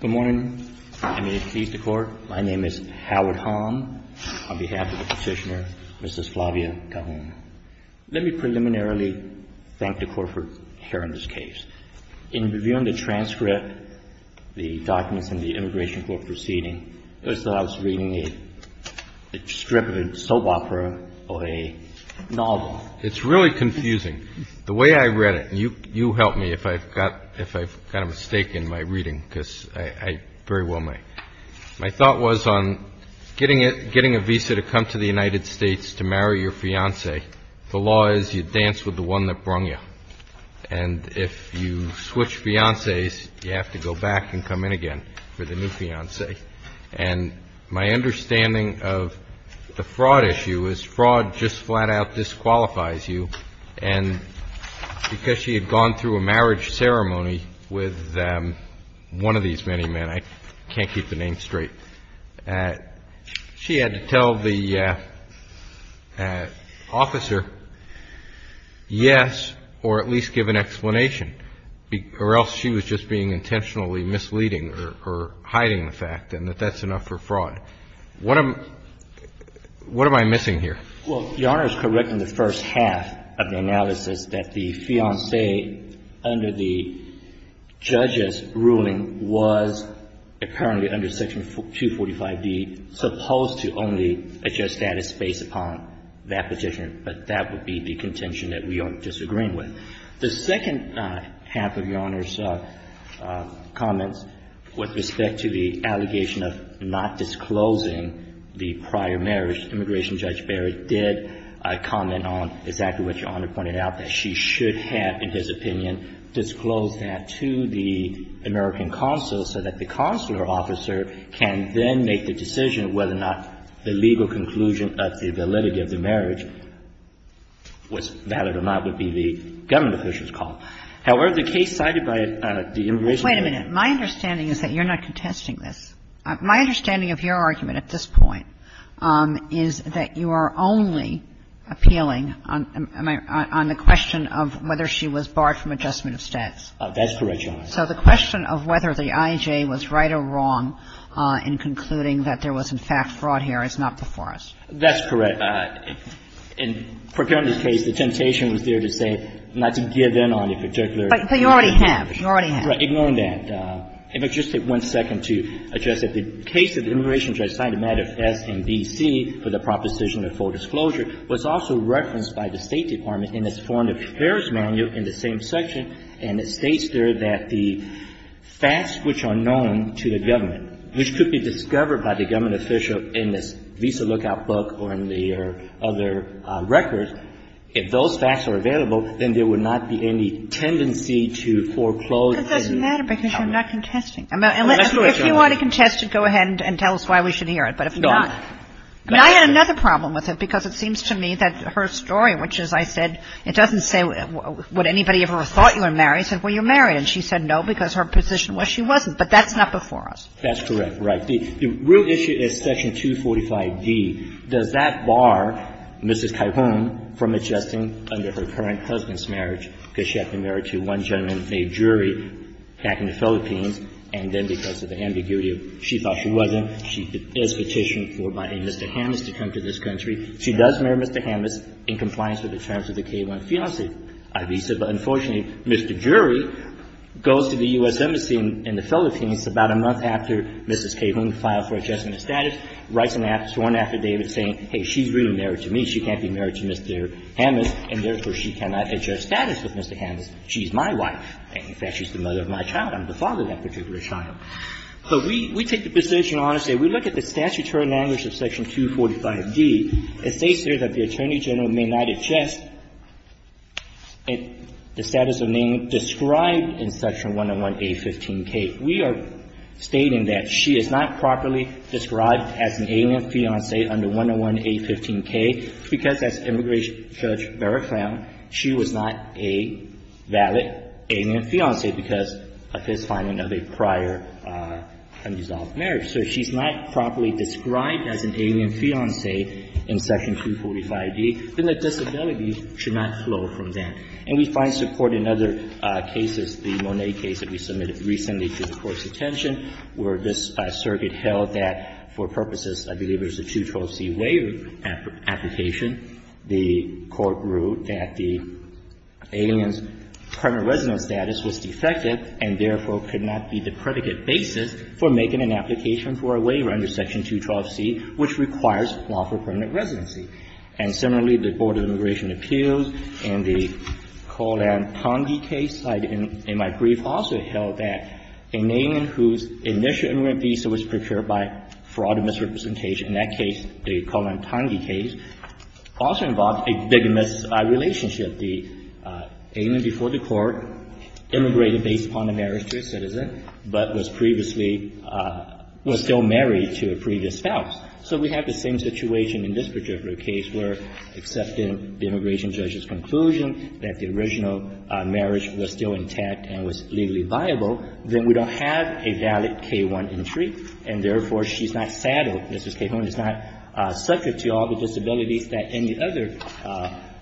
Good morning. I'm going to introduce the Court. My name is Howard Hahn. On behalf of the Petitioner, Mrs. Flavia Cahoon. Let me preliminarily thank the Court for hearing this case. In reviewing the transcript, the documents in the Immigration Court proceeding, it was that I was reading a strip of a soap opera or a novel. It's really confusing. The way I read it, and you help me if I've got a mistake in my reading, because I very well may. My thought was on getting a visa to come to the United States to marry your fiancée. The law is you dance with the one that brung you. And if you switch fiancées, you have to go back and come in again for the new fiancée. And my understanding of the fraud issue is fraud just flat out disqualifies you. And because she had gone through a marriage ceremony with one of these many men, I can't keep the name straight. She had to tell the officer, yes, or at least give an explanation, or else she was just being intentionally misleading or hiding the fact and that that's enough for fraud. What am I missing here? Well, Your Honor is correct in the first half of the analysis that the fiancée, under the judge's ruling, was apparently under Section 245d, supposed to only adjust status based upon that petition. But that would be the contention that we are disagreeing with. The second half of Your Honor's comments with respect to the allegation of not disclosing the prior marriage, Immigration Judge Barrett did comment on exactly what Your Honor pointed out, that she should have, in his opinion, disclosed that to the American consul so that the consular officer can then make the decision whether or not the legal conclusion of the validity of the marriage was valid or not would be the government official's call. However, the case cited by the Immigration Judge. Wait a minute. My understanding is that you're not contesting this. My understanding of your argument at this point is that you are only appealing on the question of whether she was barred from adjustment of status. That's correct, Your Honor. So the question of whether the IJ was right or wrong in concluding that there was in fact fraud here is not before us. That's correct. In Procurando's case, the temptation was there to say not to give in on a particular But you already have. You already have. Ignoring that, if I could just take one second to address it. The case that the Immigration Judge cited, matter of fact, in D.C. for the proposition of full disclosure, was also referenced by the State Department in its Foreign Affairs Manual in the same section, and it states there that the facts which are known to the government, which could be discovered by the government official in this Visa Lookout book or in the other records, if those facts are available, then there would not be any redundancy to foreclose. That doesn't matter because you're not contesting. If you want to contest it, go ahead and tell us why we should hear it. But if not, I mean, I had another problem with it because it seems to me that her story, which, as I said, it doesn't say would anybody ever have thought you were married. It said, well, you're married. And she said no because her position was she wasn't. But that's not before us. That's correct. Right. The real issue is Section 245d. Does that bar Mrs. Cajon from adjusting under her current husband's marriage because she had been married to one gentleman, a jury, back in the Philippines and then because of the ambiguity, she thought she wasn't. She is petitioned for by a Mr. Hammes to come to this country. She does marry Mr. Hammes in compliance with the terms of the Cajon fiancé visa. But unfortunately, Mr. Jury goes to the U.S. Embassy in the Philippines about a month after Mrs. Cajon filed for adjustment of status, writes an affidavit saying, hey, she's really married to me. She can't be married to Mr. Hammes. And therefore, she cannot adjust status with Mr. Hammes. She's my wife. In fact, she's the mother of my child. I'm the father of that particular child. So we take the position honestly. We look at the statutory language of Section 245d. It states here that the Attorney General may not adjust the status of name described in Section 101a15k. We are stating that she is not properly described as an alien fiancé under 101a15k because as Immigration Judge Barrett found, she was not a valid alien fiancé because of his finding of a prior undissolved marriage. So if she's not properly described as an alien fiancé in Section 245d, then the disability should not flow from that. And we find support in other cases, the Monet case that we submitted recently to the Court's attention, where this circuit held that for purposes, I believe there's a 212c waiver application. The Court ruled that the alien's permanent residence status was defective and therefore could not be the predicate basis for making an application for a waiver under Section 212c, which requires lawful permanent residency. And similarly, the Board of Immigration Appeals and the Coland-Ponge case in my brief also held that an alien whose initial immigrant visa was prepared by fraud and misrepresentation, in that case, the Coland-Ponge case, also involved a big misrelationship. The alien before the Court immigrated based upon the marriage to a citizen, but was previously — was still married to a previous spouse. So we have the same situation in this particular case where, except in the Immigration Judges' conclusion that the original marriage was still intact and was legally viable, then we don't have a valid K-1 entry. And therefore, she's not saddled. Mrs. K-1 is not subject to all the disabilities that any other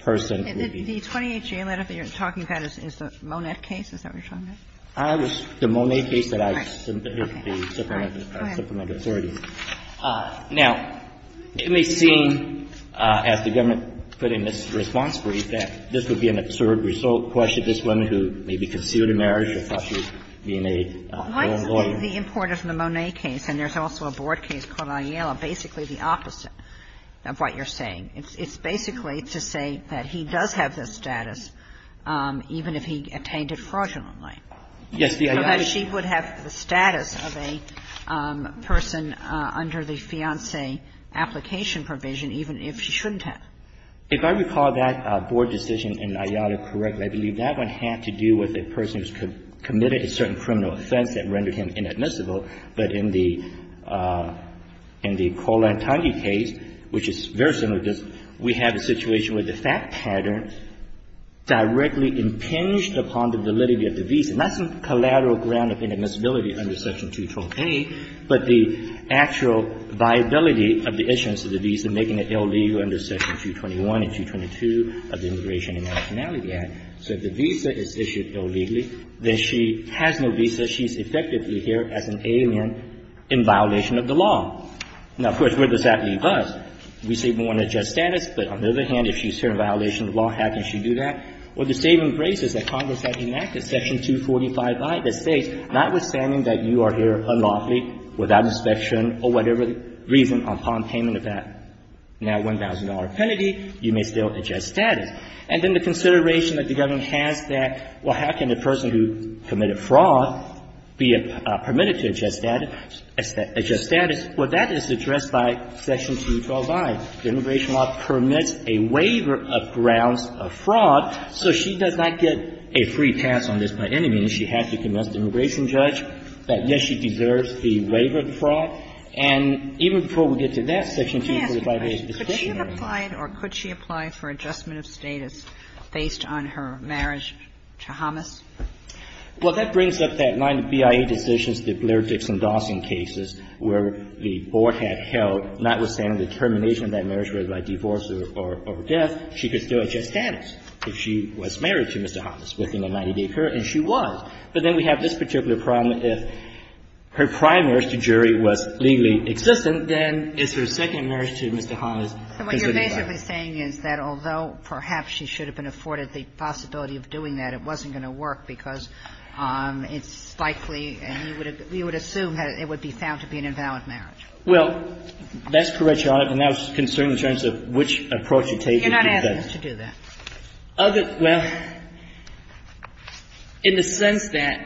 person would be. The 28-G letter that you're talking about is the Monet case? Is that what you're talking about? I was — the Monet case that I submitted to the Supplemental Authority. All right. Go ahead. Now, it may seem, as the government put in this response brief, that this would be an absurd question, this woman who may be concealed in marriage or thought she was being a foreign lawyer. Why is the import of the Monet case, and there's also a Board case called Ayala, basically the opposite of what you're saying? It's basically to say that he does have this status even if he attained it fraudulently. Yes. So that she would have the status of a person under the fiancé application provision even if she shouldn't have. If I recall that Board decision in Ayala correctly, I believe that one had to do with a person who's committed a certain criminal offense that rendered him inadmissible. But in the Cole-Antoni case, which is very similar to this, we have a situation where the fact pattern directly impinged upon the validity of the visa. Not some collateral ground of inadmissibility under Section 212A, but the actual viability of the issuance of the visa making it illegal under Section 221 and 222 of the Immigration and Nationality Act. So if the visa is issued illegally, then she has no visa. She's effectively here as an alien in violation of the law. Now, of course, where does that leave us? We say we want a just status, but on the other hand, if she's here in violation of the law, how can she do that? Well, the same embraces that Congress had enacted, Section 245I, that states notwithstanding that you are here unlawfully, without inspection, or whatever reason, upon payment of that now $1,000 penalty, you may still adjust status. And then the consideration that the government has that, well, how can a person who committed fraud be permitted to adjust status? Well, that is addressed by Section 212I. The Immigration Law permits a waiver of grounds of fraud. So she does not get a free pass on this by any means. She has to convince the immigration judge that, yes, she deserves the waiver of the fraud. And even before we get to that, Section 245A is sufficient. Kagan. Or could she apply for adjustment of status based on her marriage to Hamas? Well, that brings up that line of BIA decisions, the Blair-Dixon-Dawson cases, where the board had held, notwithstanding the termination of that marriage, whether by divorce or death, she could still adjust status if she was married to Mr. Hamas within a 90-day period, and she was. But then we have this particular problem. If her prior marriage to a jury was legally existent, then is her second marriage to Mr. Hamas physically valid? And what you're basically saying is that although perhaps she should have been afforded the possibility of doing that, it wasn't going to work because it's likely, and you would assume, it would be found to be an invalid marriage. Well, that's correct, Your Honor. And that was concerning in terms of which approach you take to do that. You're not asking us to do that. Well, in the sense that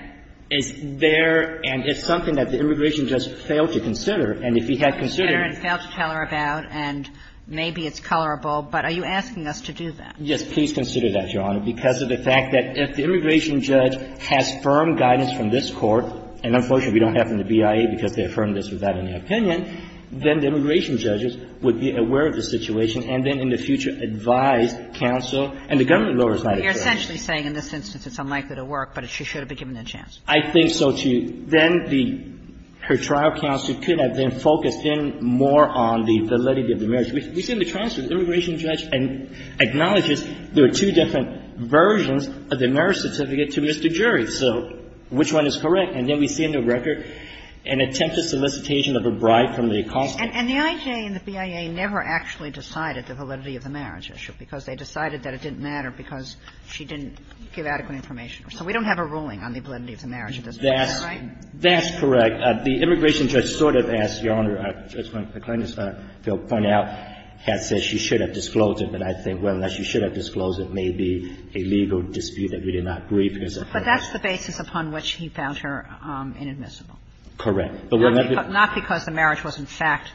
it's there and it's something that the immigration judge failed to consider, and if he had considered it. And failed to tell her about, and maybe it's colorable, but are you asking us to do that? Please consider that, Your Honor, because of the fact that if the immigration judge has firm guidance from this Court, and unfortunately, we don't have from the BIA because they affirmed this without any opinion, then the immigration judges would be aware of the situation and then in the future advise counsel. And the government law is not a judge. You're essentially saying in this instance it's unlikely to work, but she should have been given a chance. I think so, too. Then the her trial counsel could have been focused in more on the validity of the marriage. We've seen the transcript. The immigration judge acknowledges there are two different versions of the marriage issue. The first one is correct, and then we see in the record an attempted solicitation of a bribe from the accomplice. And the IJ and the BIA never actually decided the validity of the marriage issue because they decided that it didn't matter because she didn't give adequate information. So we don't have a ruling on the validity of the marriage at this point, is that right? That's correct. The immigration judge sort of asked, Your Honor, Justice McClendon, to point out, had said she should have disclosed it, but I think whether or not she should have disclosed it, I'm not going to be able to agree because of that. But that's the basis upon which he found her inadmissible. Correct. Not because the marriage was, in fact,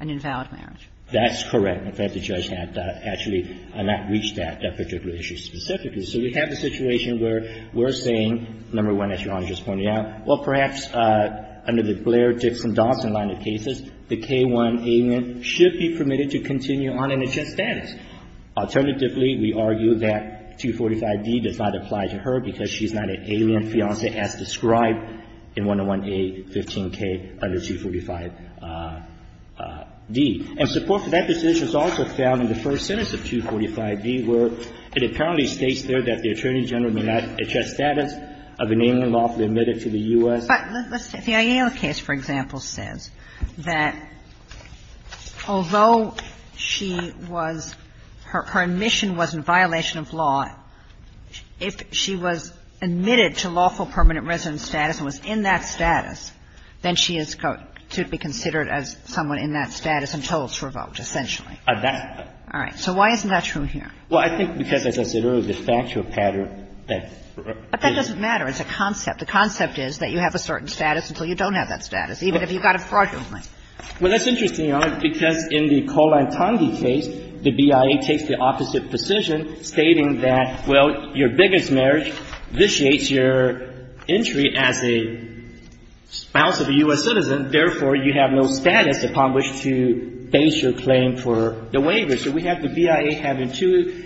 an invalid marriage. That's correct. In fact, the judge had actually not reached that particular issue specifically. So we have a situation where we're saying, number one, as Your Honor just pointed out, well, perhaps under the Blair-Dixon-Dawson line of cases, the K-1 amendment should be permitted to continue on in a just status. Alternatively, we argue that 245d does not apply to her because she's not an alien fiancé as described in 101a-15k under 245d. And support for that decision is also found in the first sentence of 245d, where it apparently states there that the Attorney General may not adjust status of an alien lawfully admitted to the U.S. But let's say the Ayala case, for example, says that although she was her admission was in violation of law, if she was admitted to lawful permanent resident status and was in that status, then she is to be considered as someone in that status until it's revoked, essentially. All right. So why isn't that true here? Well, I think because, as I said earlier, the factual pattern that raises But that doesn't matter. It's a concept. The concept is that you have a certain status until you don't have that status, even if you've got a fraudulent one. Well, that's interesting, Your Honor, because in the Koh-Lantangi case, the BIA takes the opposite position, stating that, well, your biggest marriage vitiates your entry as a spouse of a U.S. citizen, therefore, you have no status upon which to base your claim for the waiver. So we have the BIA having two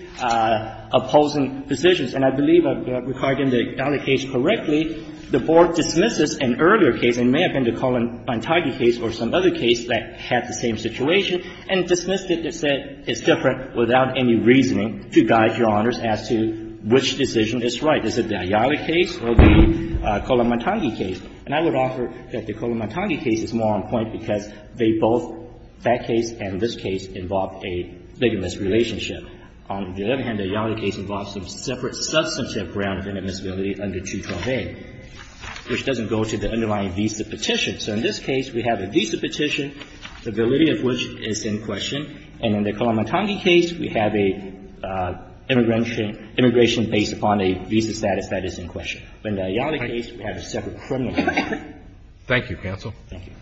opposing positions. And I believe, regarding the Ayali case correctly, the Board dismisses an earlier case, and it may have been the Koh-Lantangi case or some other case that had the same situation, and dismissed it and said it's different without any reasoning to guide Your Honors as to which decision is right. Is it the Ayali case or the Koh-Lantangi case? And I would offer that the Koh-Lantangi case is more on point because they both, that case and this case, involve a bigamist relationship. On the other hand, the Ayali case involves a separate substantive ground of inadmissibility under 212A, which doesn't go to the underlying visa petition. So in this case, we have a visa petition, the validity of which is in question. And in the Koh-Lantangi case, we have a immigration based upon a visa status that is in question. In the Ayali case, we have a separate criminal case. Thank you, counsel. Thank you.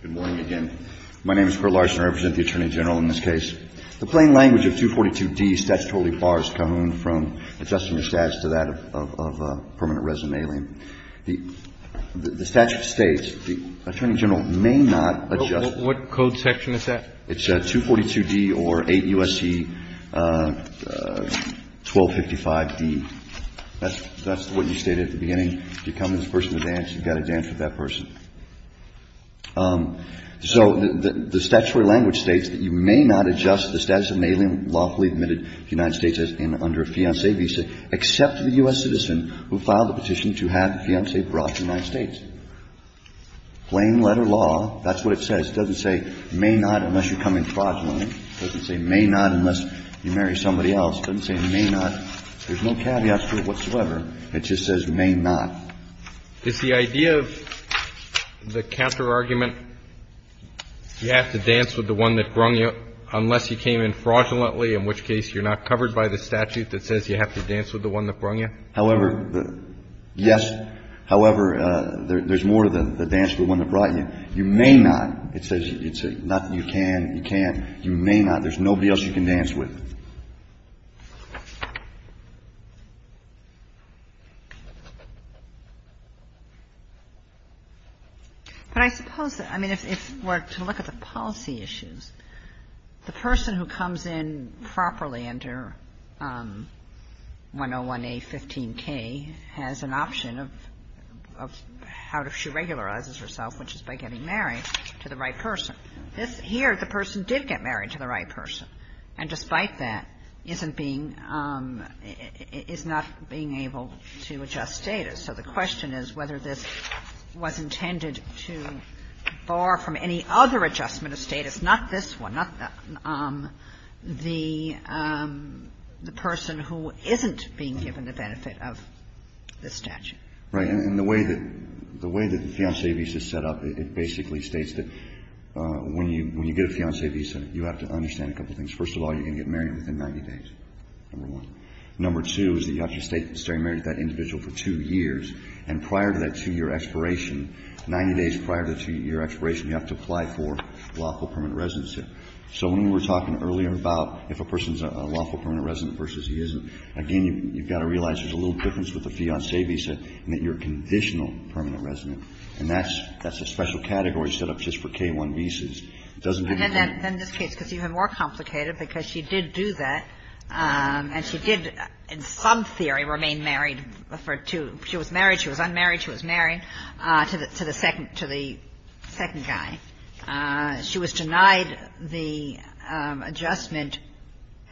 Good morning again. My name is Curt Larson. I represent the Attorney General in this case. The plain language of 242D statutorily bars Kahoon from adjusting the status to that of permanent resume. The statute states the Attorney General may not adjust. What code section is that? It's 242D or 8 U.S.C. 1255D. That's what you stated at the beginning. If you come to this person to dance, you've got to dance with that person. So the statutory language states that you may not adjust the status of an alien lawfully admitted to the United States under a fiancé visa except to the U.S. citizen who filed the petition to have the fiancé brought to the United States. Plain letter law, that's what it says. It doesn't say may not unless you come in fraudulently. It doesn't say may not unless you marry somebody else. It doesn't say may not. There's no caveats to it whatsoever. It just says may not. Is the idea of the counterargument, you have to dance with the one that brung you unless he came in fraudulently, in which case you're not covered by the statute that says you have to dance with the one that brung you? However, yes. However, there's more to the dance than the one that brought you. You may not. It says you can, you can't, you may not. There's nobody else you can dance with. But I suppose, I mean, if we're to look at the policy issues, the person who comes in properly under 101A15K has an option of how she regularizes herself, which is by getting married to the right person. This here, the person did get married to the right person, and despite that, isn't being, is not being able to adjust status. So the question is whether this was intended to bar from any other adjustment of status, not this one, not the person who isn't being given the benefit of the statute. Right. And the way that the fiancé visa is set up, it basically states that when you get a fiancé visa, you have to understand a couple of things. First of all, you're going to get married within 90 days, number one. Number two is that you have to stay married to that individual for two years. And prior to that two-year expiration, 90 days prior to the two-year expiration, you have to apply for lawful permanent residency. So when we were talking earlier about if a person's a lawful permanent resident versus he isn't, again, you've got to realize there's a little difference with a fiancé visa in that you're a conditional permanent resident. And that's a special category set up just for K-1 visas. It doesn't have to be. And then this case gets even more complicated because she did do that, and she did in some theory remain married for two. She was married. She was unmarried. She was married to the second guy. She was denied the adjustment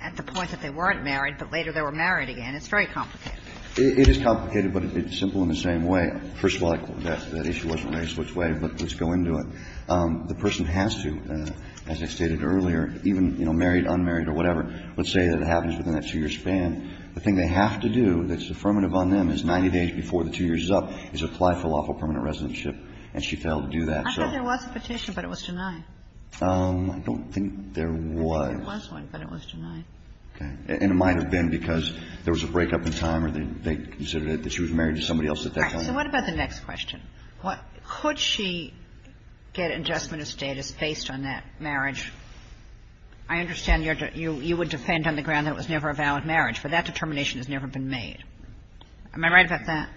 at the point that they weren't married, but later they were married again. It's very complicated. It is complicated, but it's simple in the same way. First of all, that issue wasn't raised which way, but let's go into it. The person has to, as I stated earlier, even, you know, married, unmarried or whatever, let's say that it happens within that two-year span, the thing they have to do that's affirmative on them is 90 days before the two years is up is apply for lawful permanent residentship. And she failed to do that, so. I thought there was a petition, but it was denied. I think there was one, but it was denied. Okay. And it might have been because there was a breakup in time or they considered it that she was married to somebody else at that point. All right. So what about the next question? Could she get adjustment of status based on that marriage? I understand you would defend on the ground that it was never a valid marriage, but that determination has never been made. Am I right about that?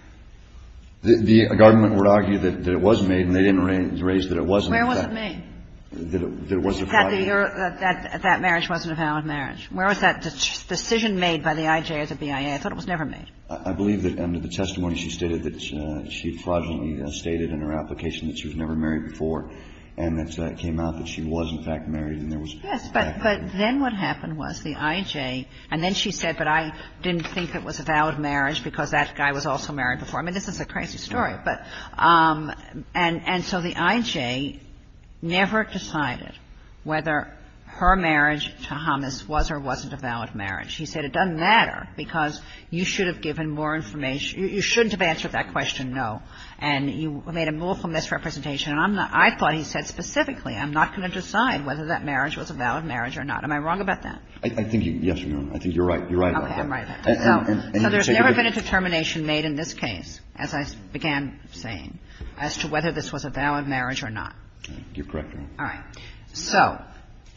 The government would argue that it was made, and they didn't raise that it wasn't. Where was it made? That it was a fraud. That marriage wasn't a valid marriage. Where was that decision made by the IJ as a BIA? I thought it was never made. I believe that under the testimony she stated that she fraudulently stated in her application that she was never married before, and that came out that she was, in fact, married and there was a breakup. Yes. But then what happened was the IJ, and then she said, but I didn't think it was a valid marriage because that guy was also married before. I mean, this is a crazy story. And so the IJ never decided whether her marriage to Thomas was or wasn't a valid marriage. She said it doesn't matter because you should have given more information you shouldn't have answered that question, no, and you made a move from this representation. And I'm not – I thought he said specifically I'm not going to decide whether that marriage was a valid marriage or not. Am I wrong about that? I think you – yes, Your Honor. I think you're right. You're right about that. Okay. I'm right about that. So there's never been a determination made in this case, as I began saying, as to whether this was a valid marriage or not. You're correct, Your Honor. All right. So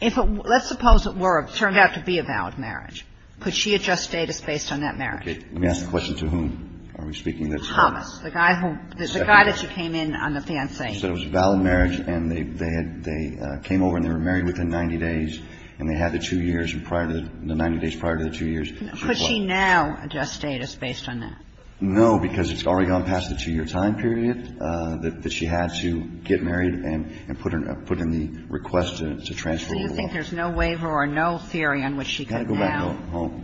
if – let's suppose it were – turned out to be a valid marriage. Could she adjust status based on that marriage? Okay. Let me ask the question to whom are we speaking. Thomas. Thomas. The guy who – the guy that she came in on the fiancé. She said it was a valid marriage and they had – they came over and they were married within 90 days and they had the two years prior to – the 90 days prior to the two years. Could she now adjust status based on that? No, because it's already gone past the two-year time period that she had to get married and put in the request to transfer over the law. So you think there's no waiver or no theory on which she could now?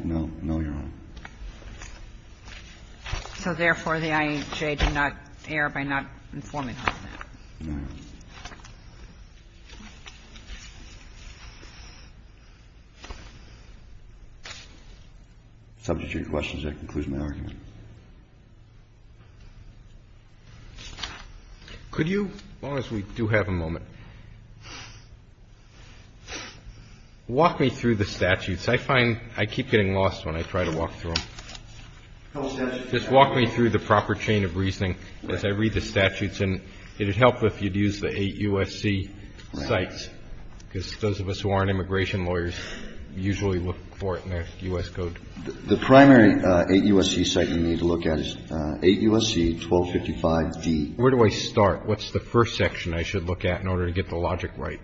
No. No, Your Honor. So therefore, the IAJ did not err by not informing her of that? No. Subject to your questions, that concludes my argument. Could you, as long as we do have a moment, walk me through the statutes? I find I keep getting lost when I try to walk through them. Just walk me through the proper chain of reasoning as I read the statutes. And it would help if you'd use the eight U.S.C. sites, because those of us who aren't immigration lawyers usually look for it in their U.S. code. The primary eight U.S.C. site you need to look at is eight U.S.C., 1255-D. Where do I start? What's the first section I should look at in order to get the logic right?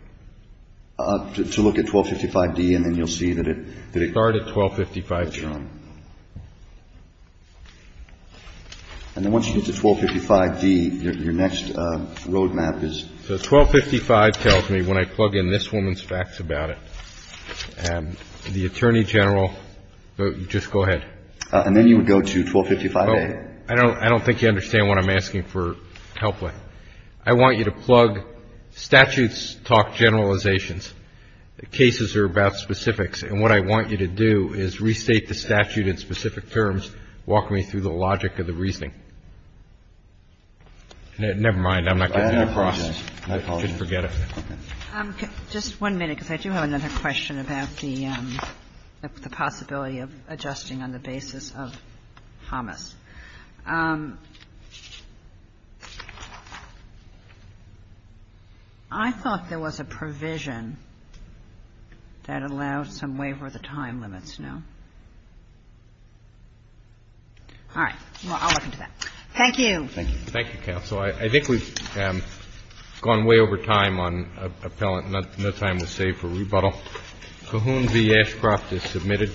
To look at 1255-D and then you'll see that it – Start at 1255-D. And then once you get to 1255-D, your next roadmap is? So 1255 tells me when I plug in this woman's facts about it, the Attorney General – just go ahead. And then you would go to 1255-A. I don't think you understand what I'm asking for help with. I want you to plug statutes, talk generalizations. Cases are about specifics. And what I want you to do is restate the statute in specific terms, walk me through the logic of the reasoning. Never mind. I'm not getting it across. You should forget it. Just one minute, because I do have another question about the possibility of adjusting on the basis of HOMIS. I thought there was a provision that allowed some waiver of the time limits, no? All right. I'll look into that. Thank you. Thank you. Thank you, Counsel. I think we've gone way over time on appellant. No time was saved for rebuttal. CAHOONS v. Ashcroft is submitted.